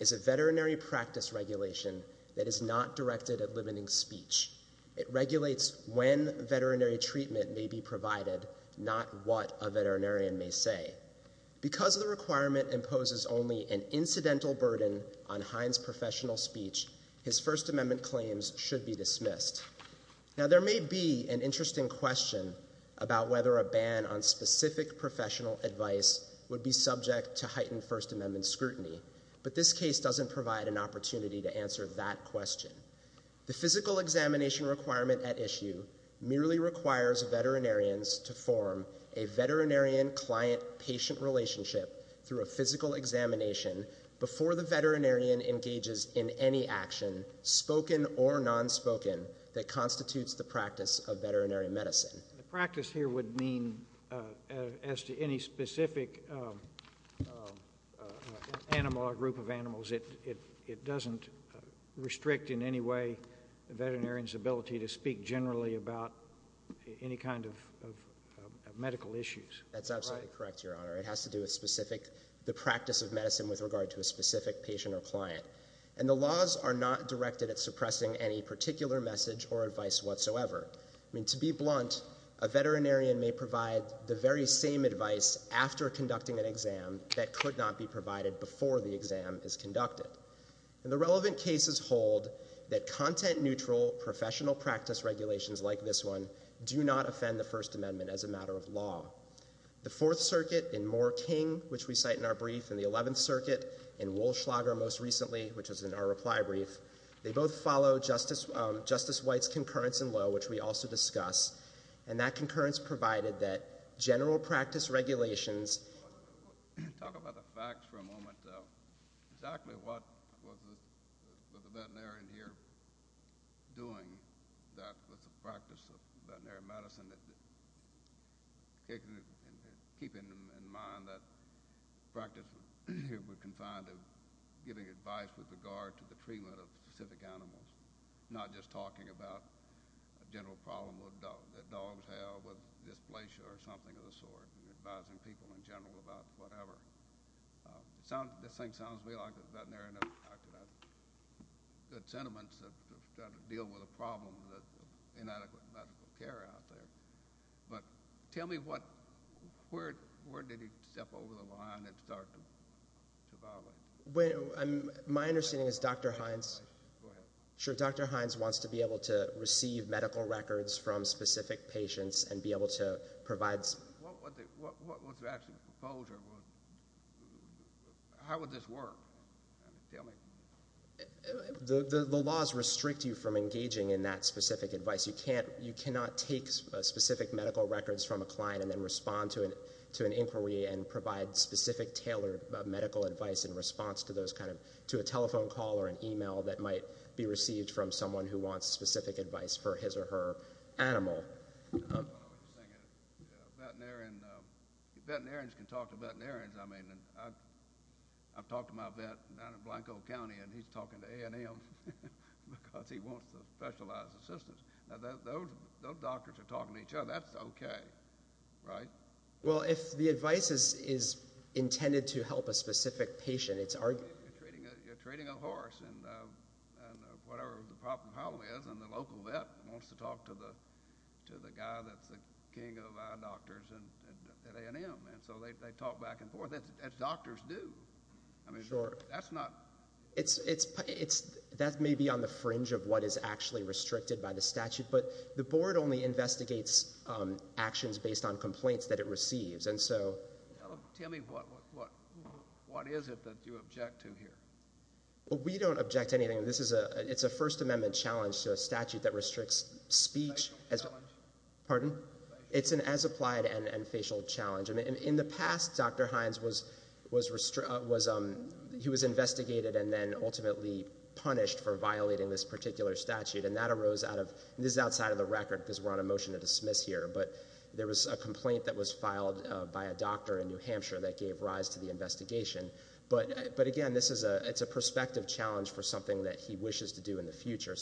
is a veterinary practice regulation that is not directed at limiting speech. It regulates when veterinary treatment may be provided, not what a veterinarian may say. Because the requirement imposes only an incidental burden on Hines' professional speech, his First Amendment claims should be dismissed. Now, there may be an interesting question about whether a ban on specific professional advice would be subject to heightened First Amendment scrutiny, but this case doesn't provide an opportunity to answer that question. The physical examination requirement at issue merely requires veterinarians to form a veterinarian-client-patient relationship through a physical examination before the veterinarian engages in any action, spoken or nonspoken, that constitutes the practice of veterinary medicine. The practice here would mean, as to any specific animal or group of animals, it doesn't restrict in any way a veterinarian's ability to speak generally about any kind of medical issues. That's absolutely correct, Your Honor. It has to do with the practice of medicine with regard to a specific patient or client. And the laws are not directed at suppressing any particular message or advice whatsoever. I mean, to be blunt, a veterinarian may provide the very same advice after conducting an exam that could not be provided before the exam is conducted. And the relevant cases hold that content-neutral professional practice regulations like this one do not offend the First Amendment as a matter of law. The Fourth Circuit in Moore-King, which we cite in our brief, and the Eleventh Circuit in Wollschlager most recently, which is in our reply brief, they both follow Justice White's concurrence in law, which we also discuss, and that concurrence provided that general practice regulations... Talk about the facts for a moment. Exactly what was the veterinarian here doing that was the practice of veterinary medicine? Keeping in mind that practice here we're confined to giving advice with regard to the treatment of specific animals, not just talking about a general problem that dogs have with dysplasia or something of the sort and advising people in general about whatever. This thing sounds to me like the veterinarian has good sentiments to try to deal with a problem of inadequate medical care out there. But tell me where did he step over the line and start to violate? My understanding is Dr. Hines wants to be able to receive medical records from specific patients and be able to provide... What was the actual proposal? How would this work? Tell me. The laws restrict you from engaging in that specific advice. You cannot take specific medical records from a client and then respond to an inquiry and provide specific tailored medical advice in response to a telephone call or an e-mail that might be received from someone who wants specific advice for his or her animal. Veterinarians can talk to veterinarians. I've talked to my vet down in Blanco County, and he's talking to A&M because he wants the specialized assistance. Those doctors are talking to each other. That's okay, right? Well, if the advice is intended to help a specific patient, it's arguably... You're treating a horse and whatever the problem is, and the local vet wants to talk to the guy that's the king of eye doctors at A&M. So they talk back and forth, as doctors do. That's not... That may be on the fringe of what is actually restricted by the statute, but the board only investigates actions based on complaints that it receives. Tell me, what is it that you object to here? We don't object to anything. It's a First Amendment challenge to a statute that restricts speech. Facial challenge. Pardon? It's an as-applied and facial challenge. In the past, Dr. Hines was investigated and then ultimately punished for violating this particular statute, and that arose out of... This is outside of the record because we're on a motion to dismiss here, but there was a complaint that was filed by a doctor in New Hampshire that gave rise to the investigation. But, again, it's a prospective challenge for something that he wishes to do in the future.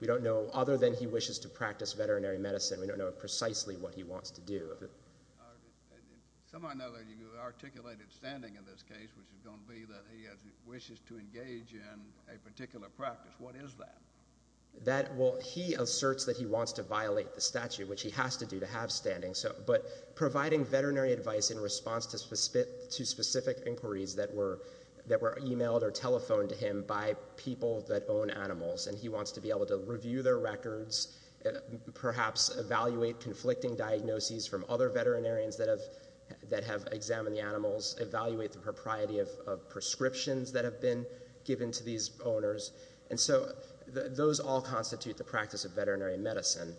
We don't know, other than he wishes to practice veterinary medicine, we don't know precisely what he wants to do. Some might know that you articulated standing in this case, which is going to be that he wishes to engage in a particular practice. What is that? Well, he asserts that he wants to violate the statute, which he has to do to have standing, but providing veterinary advice in response to specific inquiries that were emailed or telephoned to him by people that own animals, and he wants to be able to review their records, perhaps evaluate conflicting diagnoses from other veterinarians that have examined the animals, evaluate the propriety of prescriptions that have been given to these owners. And so those all constitute the practice of veterinary medicine.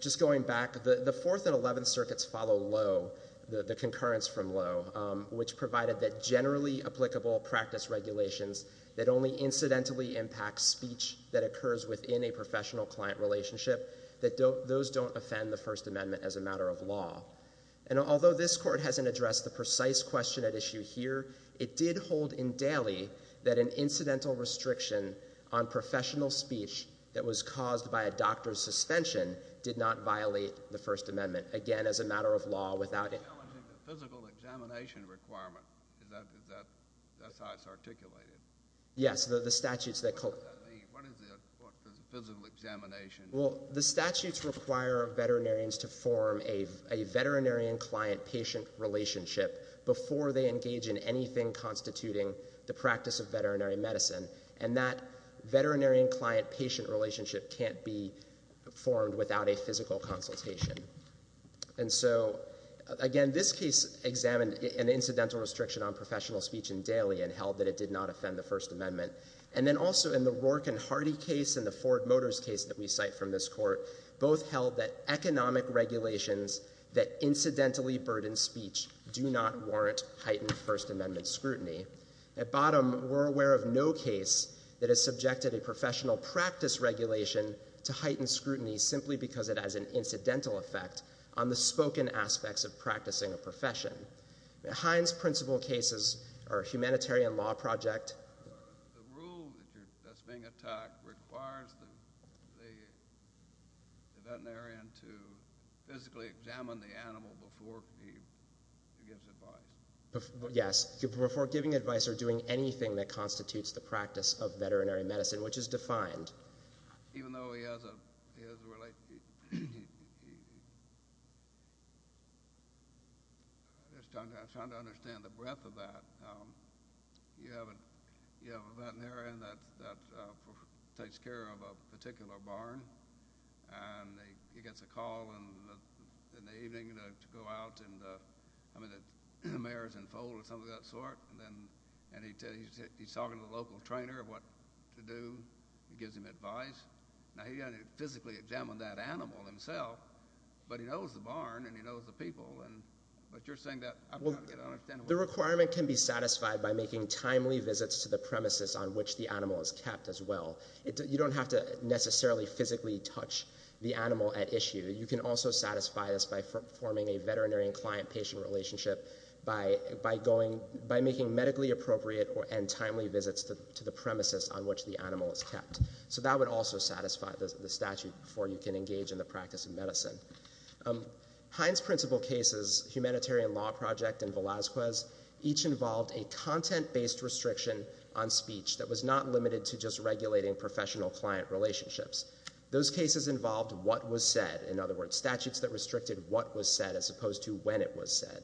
Just going back, the Fourth and Eleventh Circuits follow Lowe, the concurrence from Lowe, which provided that generally applicable practice regulations that only incidentally impact speech that occurs within a professional-client relationship, that those don't offend the First Amendment as a matter of law. And although this Court hasn't addressed the precise question at issue here, it did hold in Daley that an incidental restriction on professional speech that was caused by a doctor's suspension did not violate the First Amendment, again, as a matter of law. The physical examination requirement, is that how it's articulated? Yes, the statutes that... What does that mean? What is a physical examination? Well, the statutes require veterinarians to form a veterinarian-client-patient relationship before they engage in anything constituting the practice of veterinary medicine, and that veterinarian-client-patient relationship can't be formed without a physical consultation. And so, again, this case examined an incidental restriction on professional speech in Daley and held that it did not offend the First Amendment. And then also, in the Rourke and Hardy case and the Ford Motors case that we cite from this Court, both held that economic regulations that incidentally burden speech do not warrant heightened First Amendment scrutiny. At bottom, we're aware of no case that has subjected a professional practice regulation to heightened scrutiny simply because it has an incidental effect on the spoken aspects of practicing a profession. Hines' principal cases are a humanitarian law project... The rule that's being attacked requires the veterinarian to physically examine the animal before he gives advice. Yes, before giving advice or doing anything that constitutes the practice of veterinary medicine, which is defined. Even though he has a... I'm just trying to understand the breadth of that. You have a veterinarian that takes care of a particular barn, and he gets a call in the evening to go out, and the mayor's in full or something of that sort, and he's talking to the local trainer of what to do. He gives him advice. Now, he hasn't physically examined that animal himself, but he knows the barn and he knows the people. But you're saying that... The requirement can be satisfied by making timely visits to the premises on which the animal is kept as well. You don't have to necessarily physically touch the animal at issue. You can also satisfy this by forming a veterinary and client-patient relationship by making medically appropriate and timely visits to the premises on which the animal is kept. So that would also satisfy the statute before you can engage in the practice of medicine. Hines' principal cases, Humanitarian Law Project and Velazquez, each involved a content-based restriction on speech that was not limited to just regulating professional-client relationships. Those cases involved what was said. In other words, statutes that restricted what was said as opposed to when it was said.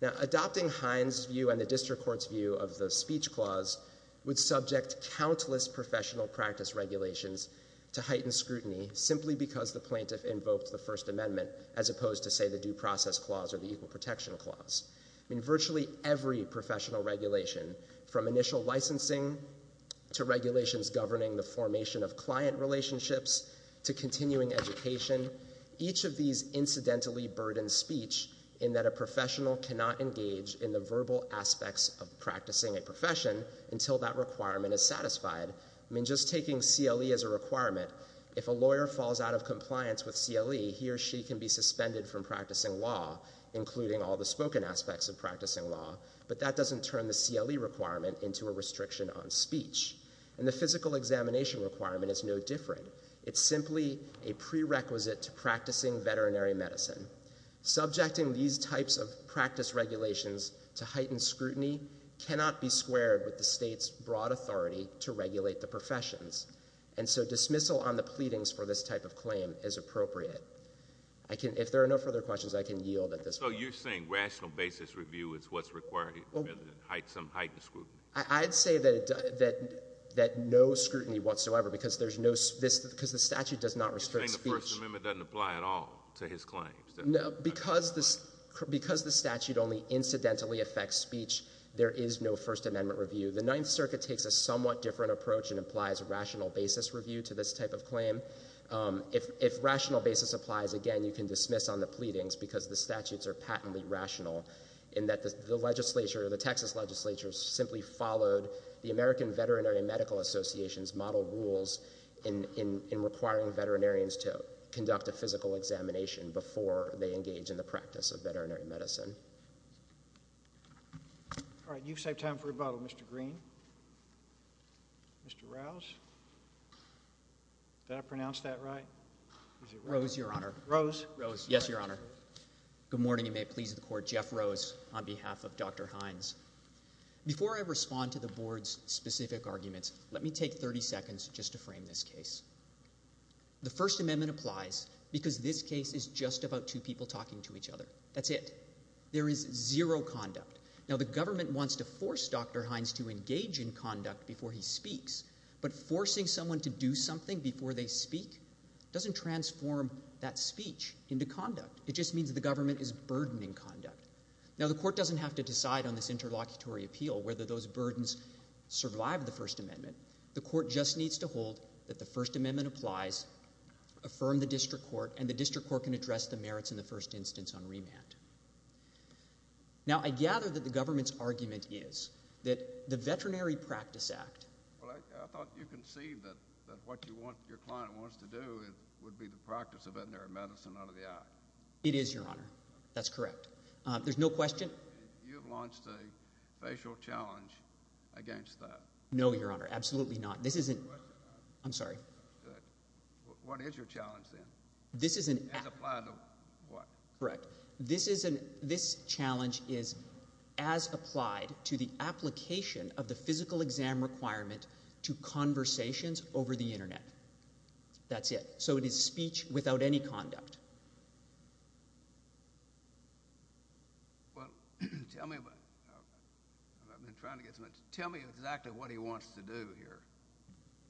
Now, adopting Hines' view and the district court's view of the speech clause would subject countless professional practice regulations to heightened scrutiny simply because the plaintiff invoked the First Amendment as opposed to, say, the Due Process Clause or the Equal Protection Clause. Virtually every professional regulation, from initial licensing to regulations governing the formation of client relationships to continuing education, each of these incidentally burden speech in that a professional cannot engage in the verbal aspects of practicing a profession until that requirement is satisfied. I mean, just taking CLE as a requirement, if a lawyer falls out of compliance with CLE, he or she can be suspended from practicing law, including all the spoken aspects of practicing law, but that doesn't turn the CLE requirement into a restriction on speech. And the physical examination requirement is no different. It's simply a prerequisite to practicing veterinary medicine. Subjecting these types of practice regulations to heightened scrutiny cannot be squared with the state's broad authority to regulate the professions. And so dismissal on the pleadings for this type of claim is appropriate. If there are no further questions, I can yield at this point. So you're saying rational basis review is what's required rather than some heightened scrutiny? I'd say that no scrutiny whatsoever, because the statute does not restrict speech. So you're saying the First Amendment doesn't apply at all to his claims? No, because the statute only incidentally affects speech, there is no First Amendment review. The Ninth Circuit takes a somewhat different approach and applies rational basis review to this type of claim. If rational basis applies, again, you can dismiss on the pleadings because the statutes are patently rational in that the legislature, the Texas legislature, simply followed the American Veterinary Medical Association's rebuttal rules in requiring veterinarians to conduct a physical examination before they engage in the practice of veterinary medicine. All right, you've saved time for rebuttal, Mr. Green. Mr. Rouse? Did I pronounce that right? Rouse, Your Honor. Rouse? Rouse, yes, Your Honor. Good morning, and may it please the Court. Jeff Rouse on behalf of Dr. Hines. Before I respond to the Board's specific arguments, let me take 30 seconds just to frame this case. The First Amendment applies because this case is just about two people talking to each other. That's it. There is zero conduct. Now, the government wants to force Dr. Hines to engage in conduct before he speaks, but forcing someone to do something before they speak doesn't transform that speech into conduct. It just means the government is burdening conduct. Now, the Court doesn't have to decide on this interlocutory appeal whether those burdens survive the First Amendment. The Court just needs to hold that the First Amendment applies, affirm the district court, and the district court can address the merits in the first instance on remand. Now, I gather that the government's argument is that the Veterinary Practice Act... Well, I thought you conceived that what your client wants to do would be the practice of veterinary medicine out of the act. It is, Your Honor. That's correct. There's no question... You've launched a facial challenge against that. No, Your Honor. Absolutely not. This isn't... I'm sorry. What is your challenge, then? This isn't... As applied to what? Correct. This challenge is as applied to the application of the physical exam requirement to conversations over the Internet. That's it. So it is speech without any conduct. Well, tell me... I've been trying to get some... Tell me exactly what he wants to do here.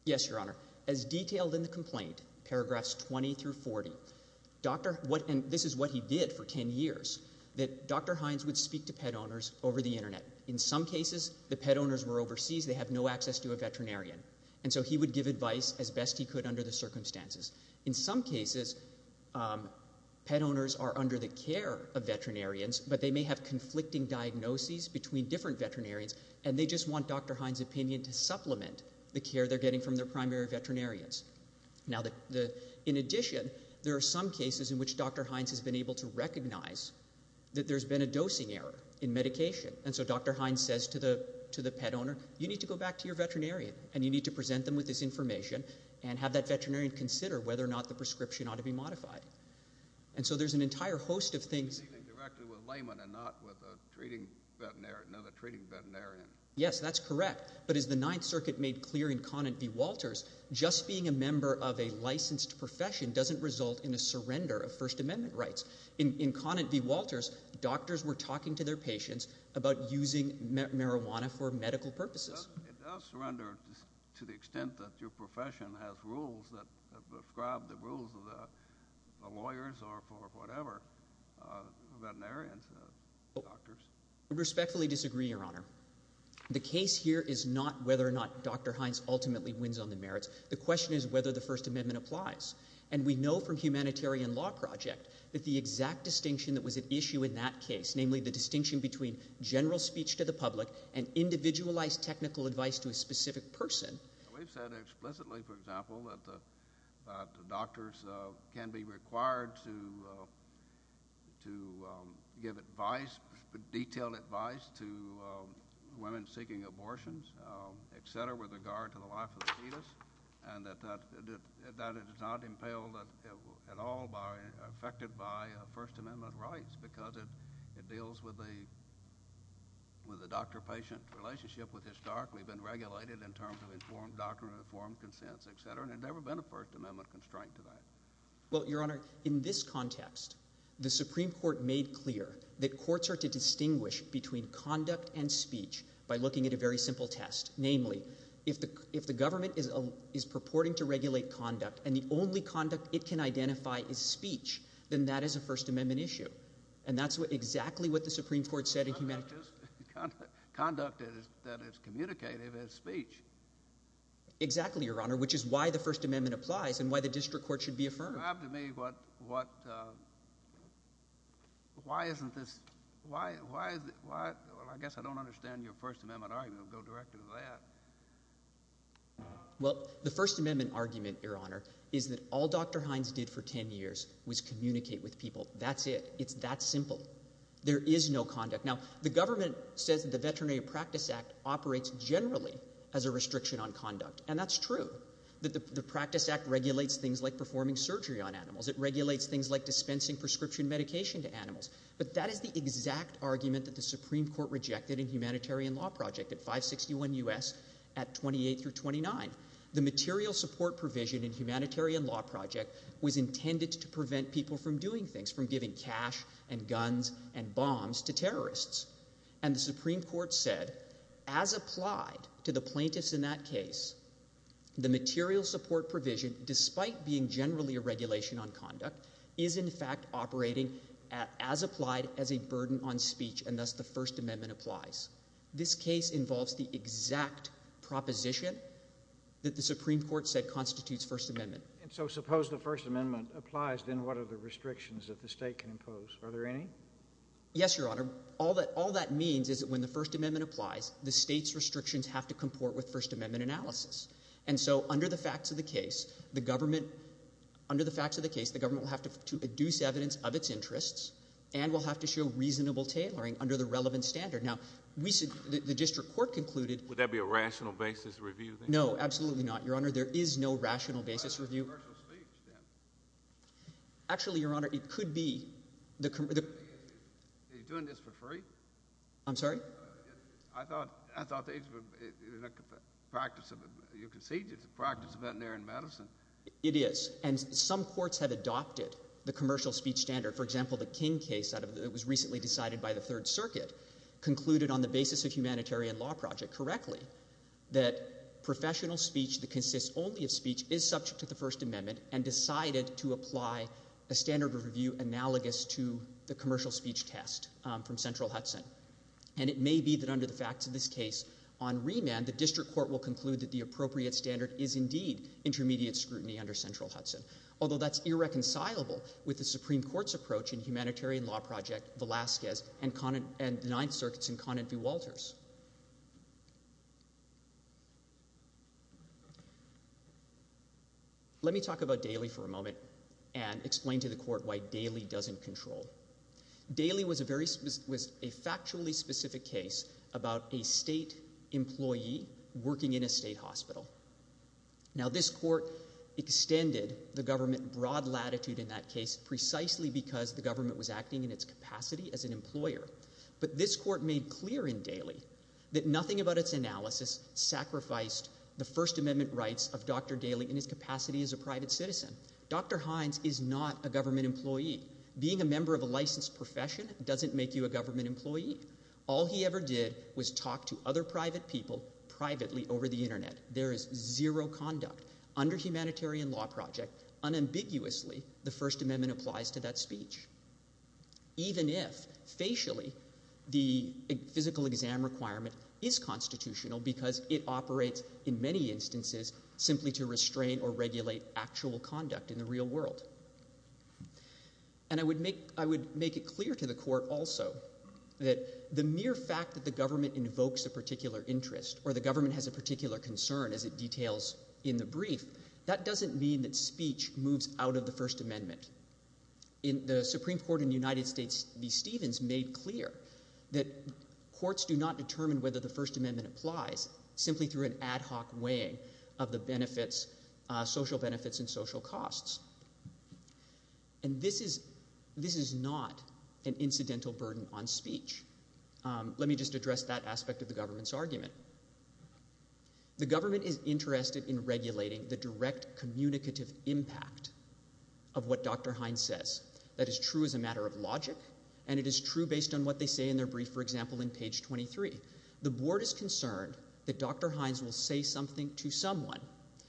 Yes, Your Honor. As detailed in the complaint, paragraphs 20 through 40, Dr. Hines... And this is what he did for 10 years, that Dr. Hines would speak to pet owners over the Internet. In some cases, the pet owners were overseas. They have no access to a veterinarian. And so he would give advice as best he could under the circumstances. In some cases, pet owners are under the care of veterinarians, but they may have conflicting diagnoses between different veterinarians, and they just want Dr. Hines' opinion to supplement the care they're getting from their primary veterinarians. Now, in addition, there are some cases in which Dr. Hines has been able to recognize that there's been a dosing error in medication. And so Dr. Hines says to the pet owner, you need to go back to your veterinarian, and you need to present them with this information and have that veterinarian consider whether or not the prescription ought to be modified. And so there's an entire host of things... ...dealing directly with laymen and not with another treating veterinarian. Yes, that's correct. But as the Ninth Circuit made clear in Conant v. Walters, just being a member of a licensed profession doesn't result in a surrender of First Amendment rights. In Conant v. Walters, doctors were talking to their patients about using marijuana for medical purposes. It does surrender to the extent that your profession has rules that describe the rules of the lawyers or for whatever, veterinarians, doctors. I respectfully disagree, Your Honor. The case here is not whether or not Dr. Hines ultimately wins on the merits. The question is whether the First Amendment applies. And we know from Humanitarian Law Project that the exact distinction that was at issue in that case, namely the distinction between general speech to the public and individualized technical advice to a specific person... We've said explicitly, for example, that doctors can be required to give advice, detailed advice to women seeking abortions, etc., with regard to the life of the fetus, and that it is not impaled at all, affected by First Amendment rights because it deals with the doctor-patient relationship which has historically been regulated in terms of informed doctrine, informed consent, etc., and there's never been a First Amendment constraint to that. Well, Your Honor, in this context, the Supreme Court made clear that courts are to distinguish between conduct and speech by looking at a very simple test. Namely, if the government is purporting to regulate conduct and the only conduct it can identify is speech, then that is a First Amendment issue. And that's exactly what the Supreme Court said in Humanitarian... Conduct that is communicative is speech. Exactly, Your Honor, which is why the First Amendment applies and why the district court should be affirmed. Describe to me what, uh... Why isn't this... Why... Well, I guess I don't understand your First Amendment argument. Go directly to that. Well, the First Amendment argument, Your Honor, is that all Dr. Hines did for 10 years was communicate with people. That's it. It's that simple. There is no conduct. Now, the government says that the Veterinary Practice Act operates generally as a restriction on conduct, and that's true. The Practice Act regulates things like performing surgery on animals. It regulates things like dispensing prescription medication to animals. But that is the exact argument that the Supreme Court rejected in Humanitarian Law Project at 561 U.S. at 28 through 29. The material support provision in Humanitarian Law Project was intended to prevent people from doing things, from giving cash and guns and bombs to terrorists. And the Supreme Court said, as applied to the plaintiffs in that case, the material support provision, despite being generally a regulation on conduct, is in fact operating as applied as a burden on speech, and thus the First Amendment applies. This case involves the exact proposition that the Supreme Court said constitutes First Amendment. And so suppose the First Amendment applies, then what are the restrictions that the state can impose? Are there any? Yes, Your Honor. All that means is that when the First Amendment applies, the state's restrictions have to comport with First Amendment analysis. And so under the facts of the case, the government will have to deduce evidence of its interests and will have to show reasonable tailoring under the relevant standard. Now, the district court concluded... Would that be a rational basis review, then? No, absolutely not, Your Honor. There is no rational basis review. It's a commercial speech, then. Actually, Your Honor, it could be. Are you doing this for free? I'm sorry? I thought... You conceded it's a practice of veterinary medicine. It is. And some courts have adopted the commercial speech standard. For example, the King case that was recently decided by the Third Circuit concluded on the basis of humanitarian law project, correctly, that professional speech that consists only of speech is subject to the First Amendment and decided to apply a standard of review analogous to the commercial speech test from Central Hudson. And it may be that under the facts of this case on remand, the district court will conclude that the appropriate standard is indeed intermediate scrutiny under Central Hudson, although that's irreconcilable with the Supreme Court's approach in humanitarian law project, Velazquez, and the Ninth Circuit's in Conant v. Walters. Let me talk about Daly for a moment and explain to the court why Daly doesn't control. Daly was a factually specific case about a state employee working in a state hospital. Now, this court extended the government broad latitude in that case precisely because the government was acting in its capacity as an employer. But this court made clear in Daly that nothing about its analysis sacrificed the First Amendment rights of Dr. Daly in his capacity as a private citizen. Dr. Hines is not a government employee. Being a member of a licensed profession doesn't make you a government employee. All he ever did was talk to other private people privately over the Internet. There is zero conduct. Under humanitarian law project, unambiguously, the First Amendment applies to that speech. Even if, facially, the physical exam requirement is constitutional because it operates, in many instances, simply to restrain or regulate actual conduct in the real world. And I would make it clear to the court also that the mere fact that the government invokes a particular interest or the government has a particular concern, as it details in the brief, that doesn't mean that speech moves out of the First Amendment. The Supreme Court in the United States v. Stevens made clear that courts do not determine whether the First Amendment applies simply through an ad hoc weighing of the benefits, social benefits and social costs. And this is not an incidental burden on speech. Let me just address that aspect of the government's argument. The government is interested in regulating the direct communicative impact of what Dr. Hines says. That is true as a matter of logic and it is true based on what they say in their brief, for example, in page 23. The board is concerned that Dr. Hines will say something to someone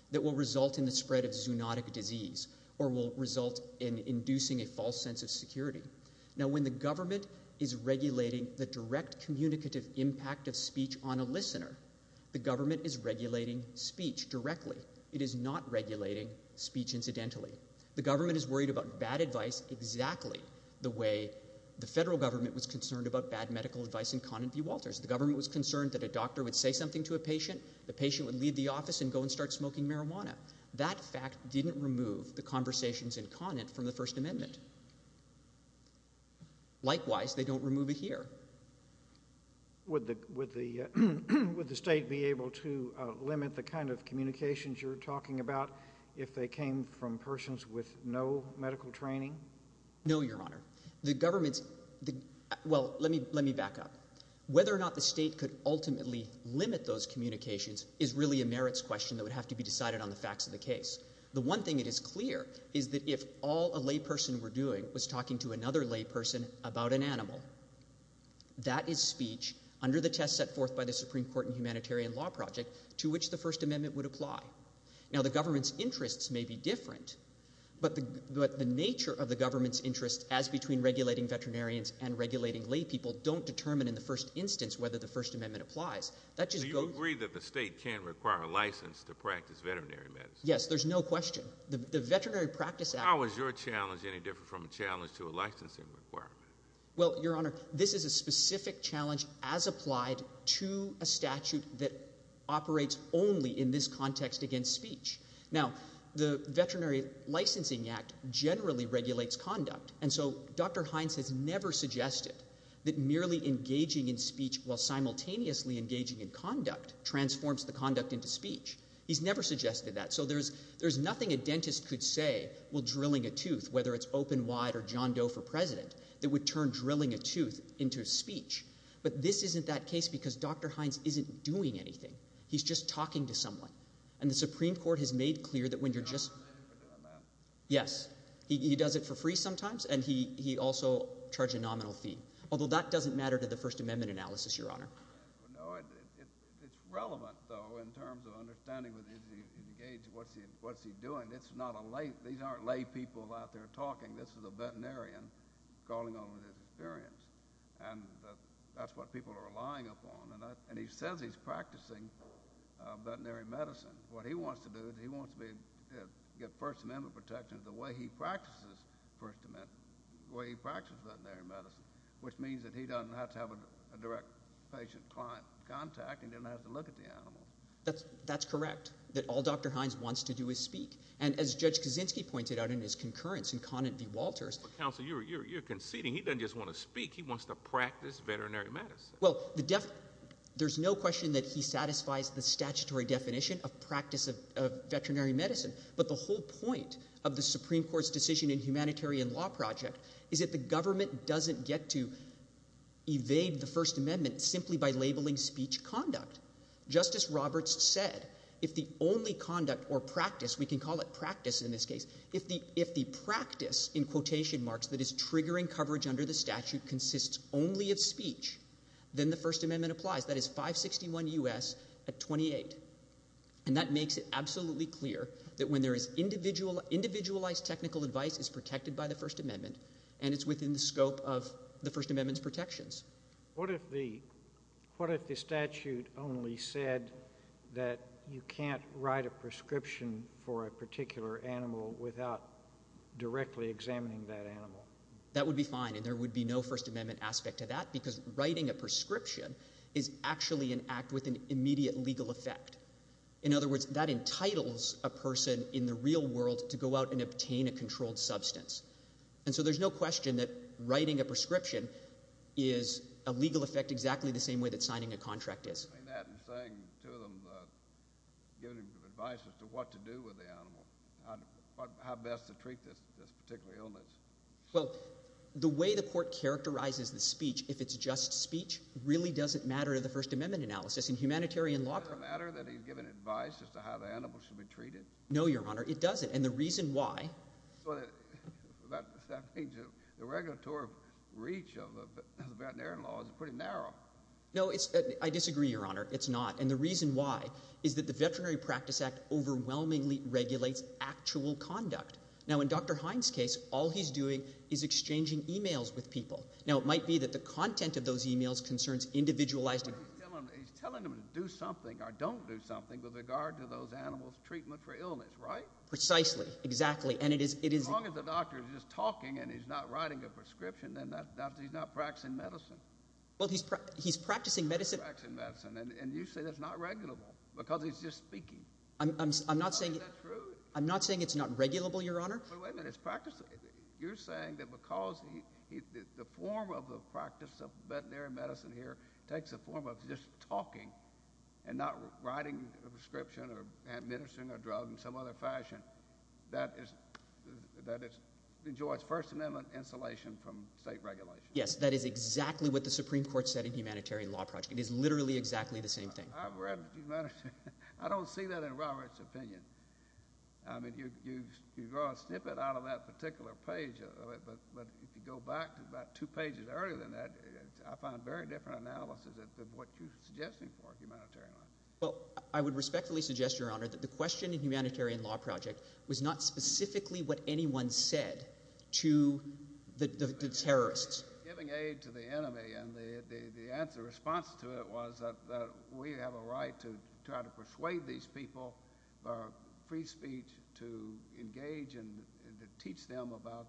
that will result in the spread of zoonotic disease or will result in inducing a false sense of security. Now, when the government is regulating the direct communicative impact of speech on a listener, the government is regulating speech directly. It is not regulating speech incidentally. The government is worried about bad advice exactly the way the federal government was concerned about bad medical advice in Conant v. Walters. The government was concerned that a doctor would say something to a patient, the patient would leave the office and go and start smoking marijuana. That fact didn't remove the conversations in Conant from the First Amendment. Likewise, they don't remove it here. Would the state be able to limit the kind of communications you're talking about if they came from persons with no medical training? No, Your Honor. The government's... Well, let me back up. Whether or not the state could ultimately limit those communications is really a merits question that would have to be decided on the facts of the case. The one thing that is clear is that if all a layperson were doing was talking to another layperson about an animal, that is speech under the test set forth by the Supreme Court and humanitarian law project to which the First Amendment would apply. Now, the government's interests may be different, but the nature of the government's interest as between regulating veterinarians and regulating laypeople don't determine in the first instance whether the First Amendment applies. So you agree that the state can't require a license to practice veterinary medicine? Yes, there's no question. How is your challenge any different from a challenge to a licensing requirement? Well, Your Honor, this is a specific challenge as applied to a statute that operates only in this context against speech. Now, the Veterinary Licensing Act generally regulates conduct, and so Dr. Hines has never suggested that merely engaging in speech while simultaneously engaging in conduct transforms the conduct into speech. He's never suggested that. So there's nothing a dentist could say while drilling a tooth, whether it's open wide or John Doe for president, that would turn drilling a tooth into speech. But this isn't that case because Dr. Hines isn't doing anything. He's just talking to someone. And the Supreme Court has made clear that when you're just... He's not permitted for doing that. Yes. He does it for free sometimes, and he also charged a nominal fee, although that doesn't matter to the First Amendment analysis, Your Honor. No, it's relevant, though, in terms of understanding what he's engaged in, what's he doing. It's not a lay... These aren't laypeople out there talking. This is a veterinarian calling on his experience. And that's what people are relying upon. And he says he's practicing veterinary medicine. What he wants to do is he wants to get First Amendment protections the way he practices veterinary medicine, which means that he doesn't have to have a direct patient-client contact and doesn't have to look at the animal. That's correct, that all Dr. Hines wants to do is speak. And as Judge Kaczynski pointed out in his concurrence in Conant v. Walters... Counsel, you're conceding he doesn't just want to speak, he wants to practice veterinary medicine. Well, there's no question that he satisfies the statutory definition of practice of veterinary medicine, but the whole point of the Supreme Court's decision in Humanitarian Law Project is that the government doesn't get to evade the First Amendment simply by labelling speech conduct. Justice Roberts said, if the only conduct or practice... We can call it practice in this case. If the practice, in quotation marks, that is triggering coverage under the statute consists only of speech, then the First Amendment applies. That is 561 U.S. at 28. And that makes it absolutely clear that when there is individualized technical advice is protected by the First Amendment and it's within the scope of the First Amendment's protections. What if the statute only said that you can't write a prescription for a particular animal without directly examining that animal? That would be fine, and there would be no First Amendment aspect to that because writing a prescription is actually an act with an immediate legal effect. In other words, that entitles a person in the real world to go out and obtain a controlled substance. And so there's no question that writing a prescription is a legal effect exactly the same way that signing a contract is. ...saying to them, giving advice as to what to do with the animal, how best to treat this particular illness. Well, the way the court characterizes the speech, if it's just speech, really doesn't matter to the First Amendment analysis. In humanitarian law... Does it matter that he's given advice as to how the animal should be treated? No, Your Honor, it doesn't, and the reason why... But that means the regulatory reach of the veterinary law is pretty narrow. No, I disagree, Your Honor, it's not. And the reason why is that the Veterinary Practice Act overwhelmingly regulates actual conduct. Now, in Dr. Hines' case, all he's doing is exchanging e-mails with people. Now, it might be that the content of those e-mails concerns individualized... But he's telling them to do something or don't do something with regard to those animals' treatment for illness, right? Precisely, exactly, and it is... As long as the doctor is just talking and he's not writing a prescription, then he's not practicing medicine. Well, he's practicing medicine... And you say that's not regulable because he's just speaking. I'm not saying... Is that true? I'm not saying it's not regulable, Your Honor. But wait a minute, it's practicing... You're saying that because the form of the practice of veterinary medicine here takes the form of just talking and not writing a prescription or administering a drug in some other fashion, that it enjoys First Amendment insulation from state regulation. Yes, that is exactly what the Supreme Court said in the Humanitarian Law Project. It is literally exactly the same thing. I've read the Humanitarian... I don't see that in Robert's opinion. I mean, you draw a snippet out of that particular page, but if you go back to about two pages earlier than that, I find very different analysis of what you're suggesting for humanitarian law. Well, I would respectfully suggest, Your Honor, that the question in the Humanitarian Law Project was not specifically what anyone said to the terrorists. Giving aid to the enemy, and the answer, response to it, was that we have a right to try to persuade these people for free speech to engage and to teach them about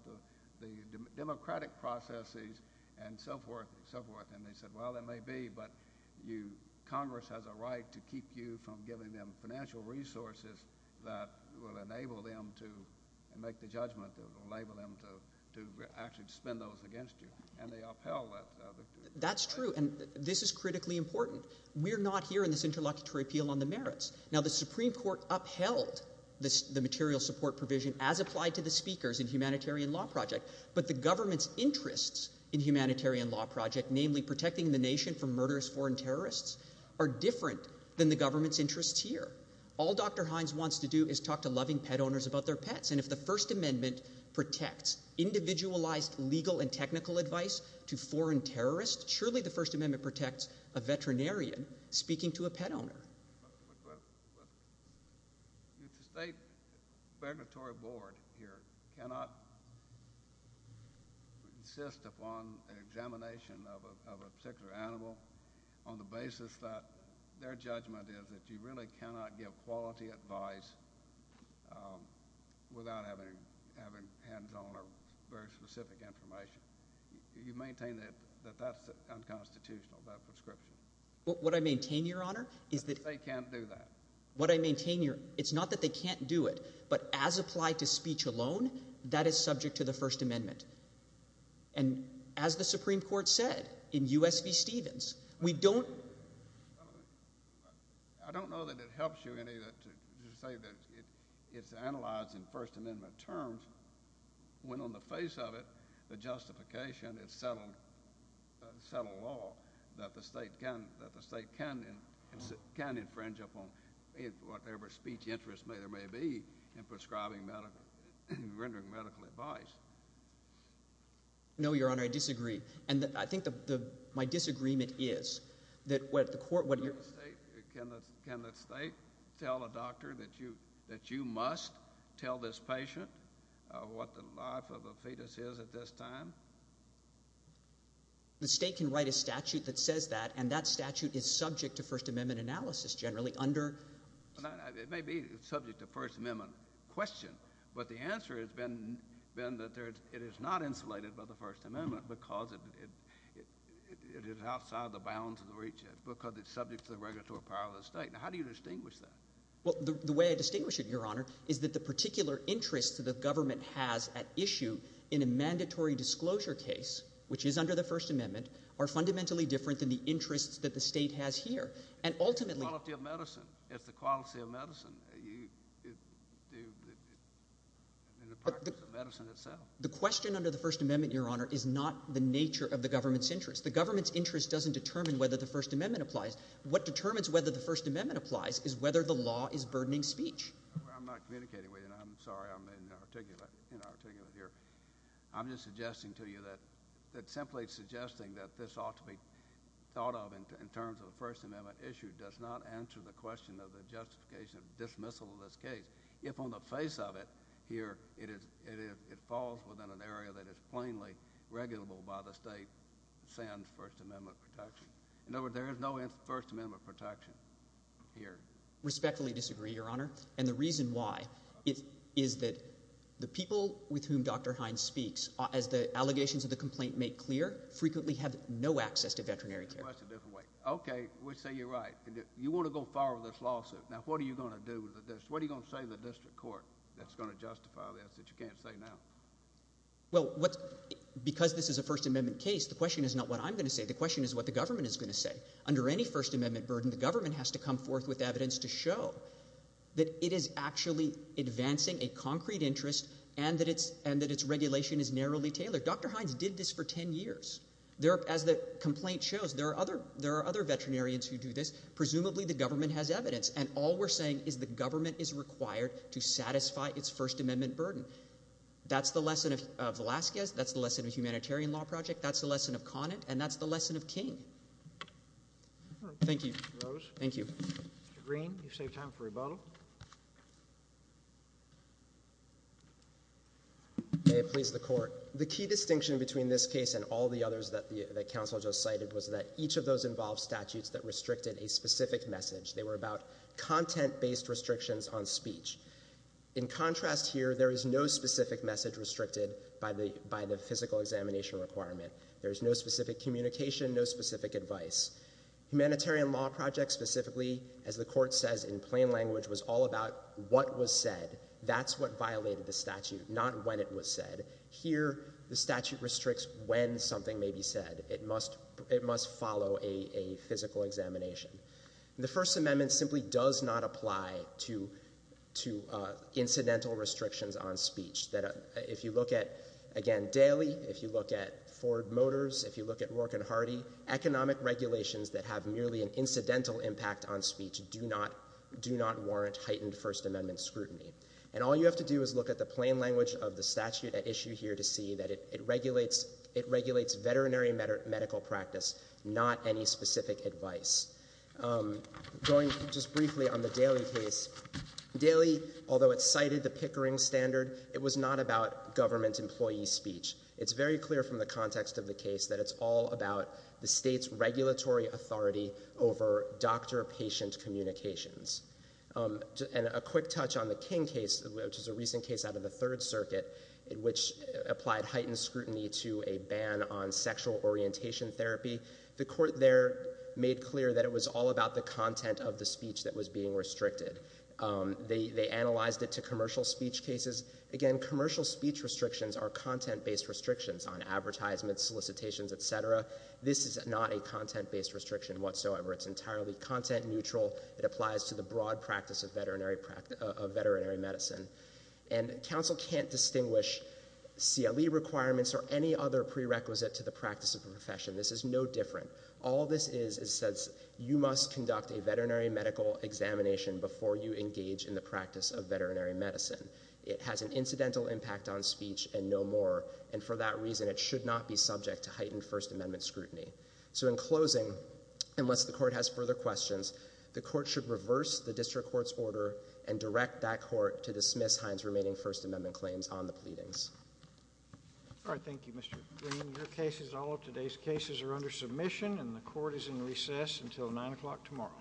the democratic processes and so forth and so forth. And they said, well, there may be, but Congress has a right to keep you from giving them financial resources that will enable them to make the judgment that will enable them to actually spend those against you. And they upheld that. That's true, and this is critically important. We're not here in this interlocutory appeal on the merits. Now, the Supreme Court upheld the material support provision as applied to the speakers in Humanitarian Law Project, but the government's interests in Humanitarian Law Project, namely protecting the nation from murderous foreign terrorists, are different than the government's interests here. All Dr Hines wants to do is talk to loving pet owners about their pets, and if the First Amendment protects individualized legal and technical advice to foreign terrorists, surely the First Amendment protects a veterinarian speaking to a pet owner. The state regulatory board here cannot insist upon an examination of a particular animal on the basis that their judgment is that you really cannot give quality advice without having hands-on or very specific information. You maintain that that's unconstitutional, that prescription. What I maintain, Your Honor, is that... That they can't do that. What I maintain here, it's not that they can't do it, but as applied to speech alone, that is subject to the First Amendment. And as the Supreme Court said in U.S. v. Stevens, we don't... I don't know that it helps you any to say that it's analyzed in First Amendment terms when on the face of it, the justification is settled law, that the state can infringe upon whatever speech interest there may be in prescribing medical... rendering medical advice. No, Your Honor, I disagree. And I think my disagreement is that what the court... Can the state tell a doctor that you must tell this patient what the life of a fetus is at this time? The state can write a statute that says that, and that statute is subject to First Amendment analysis generally under... It may be subject to First Amendment question, but the answer has been that it is not insulated by the First Amendment because it is outside the bounds of the reach of it, because it's subject to the regulatory power of the state. Now, how do you distinguish that? Well, the way I distinguish it, Your Honor, is that the particular interests that the government has at issue in a mandatory disclosure case, which is under the First Amendment, are fundamentally different than the interests that the state has here. And ultimately... It's the quality of medicine. It's the quality of medicine. In the practice of medicine itself. The question under the First Amendment, Your Honor, is not the nature of the government's interest. The government's interest doesn't determine whether the First Amendment applies. What determines whether the First Amendment applies is whether the law is burdening speech. I'm not communicating with you. I'm sorry. I'm inarticulate here. I'm just suggesting to you that... Simply suggesting that this ought to be thought of in terms of a First Amendment issue does not answer the question of the justification of dismissal of this case. If on the face of it, here, it falls within an area that is plainly regulable by the state, sans First Amendment protection. In other words, there is no First Amendment protection here. Respectfully disagree, Your Honor. And the reason why is that the people with whom Dr. Hines speaks, as the allegations of the complaint make clear, frequently have no access to veterinary care. You want to go far with this lawsuit. Now, what are you going to do? What are you going to say to the district court that's going to justify this that you can't say now? Well, because this is a First Amendment case, the question is not what I'm going to say. The question is what the government is going to say. Under any First Amendment burden, the government has to come forth with evidence to show that it is actually advancing a concrete interest and that its regulation is narrowly tailored. Dr. Hines did this for ten years. As the complaint shows, there are other veterinarians who do this. Presumably the government has evidence. And all we're saying is the government is required to satisfy its First Amendment burden. That's the lesson of Velazquez. That's the lesson of the Humanitarian Law Project. That's the lesson of Conant. And that's the lesson of King. Thank you. Thank you. Mr. Green, you've saved time for rebuttal. May it please the Court. The key distinction between this case and all the others that Counsel just cited was that each of those involved statutes that restricted a specific message. They were about content-based restrictions on speech. In contrast here, there is no specific message restricted by the physical examination requirement. There is no specific communication, no specific advice. Humanitarian Law Project specifically, as the Court says in plain language, was all about what was said. That's what violated the statute, not when it was said. Here, the statute restricts when something may be said. It must follow a physical examination. The First Amendment simply does not apply to incidental restrictions on speech. If you look at, again, Daley, if you look at Ford Motors, if you look at Rourke and Hardy, economic regulations that have merely an incidental impact on speech do not warrant heightened First Amendment scrutiny. And all you have to do is look at the plain language of the statute at issue here to see that it regulates veterinary medical practice, not any specific advice. Going just briefly on the Daley case, Daley, although it cited the Pickering Standard, it was not about government employee speech. It's very clear from the context of the case that it's all about the state's regulatory authority over doctor-patient communications. And a quick touch on the King case, which is a recent case out of the Third Circuit, which applied heightened scrutiny to a ban on sexual orientation therapy. The court there made clear that it was all about the content of the speech that was being restricted. They analyzed it to commercial speech cases. Again, commercial speech restrictions are content-based restrictions on advertisements, solicitations, et cetera. This is not a content-based restriction whatsoever. It's entirely content-neutral. It applies to the broad practice of veterinary medicine. And counsel can't distinguish CLE requirements or any other prerequisite to the practice of the profession. This is no different. All this is is that you must conduct a veterinary medical examination before you engage in the practice of veterinary medicine. It has an incidental impact on speech and no more, and for that reason it should not be subject to heightened First Amendment scrutiny. So in closing, unless the court has further questions, the court should reverse the district court's order and direct that court to dismiss Heinz's remaining First Amendment claims on the pleadings. All right. Thank you, Mr. Green. Your cases, all of today's cases, are under submission, and the court is in recess until 9 o'clock tomorrow.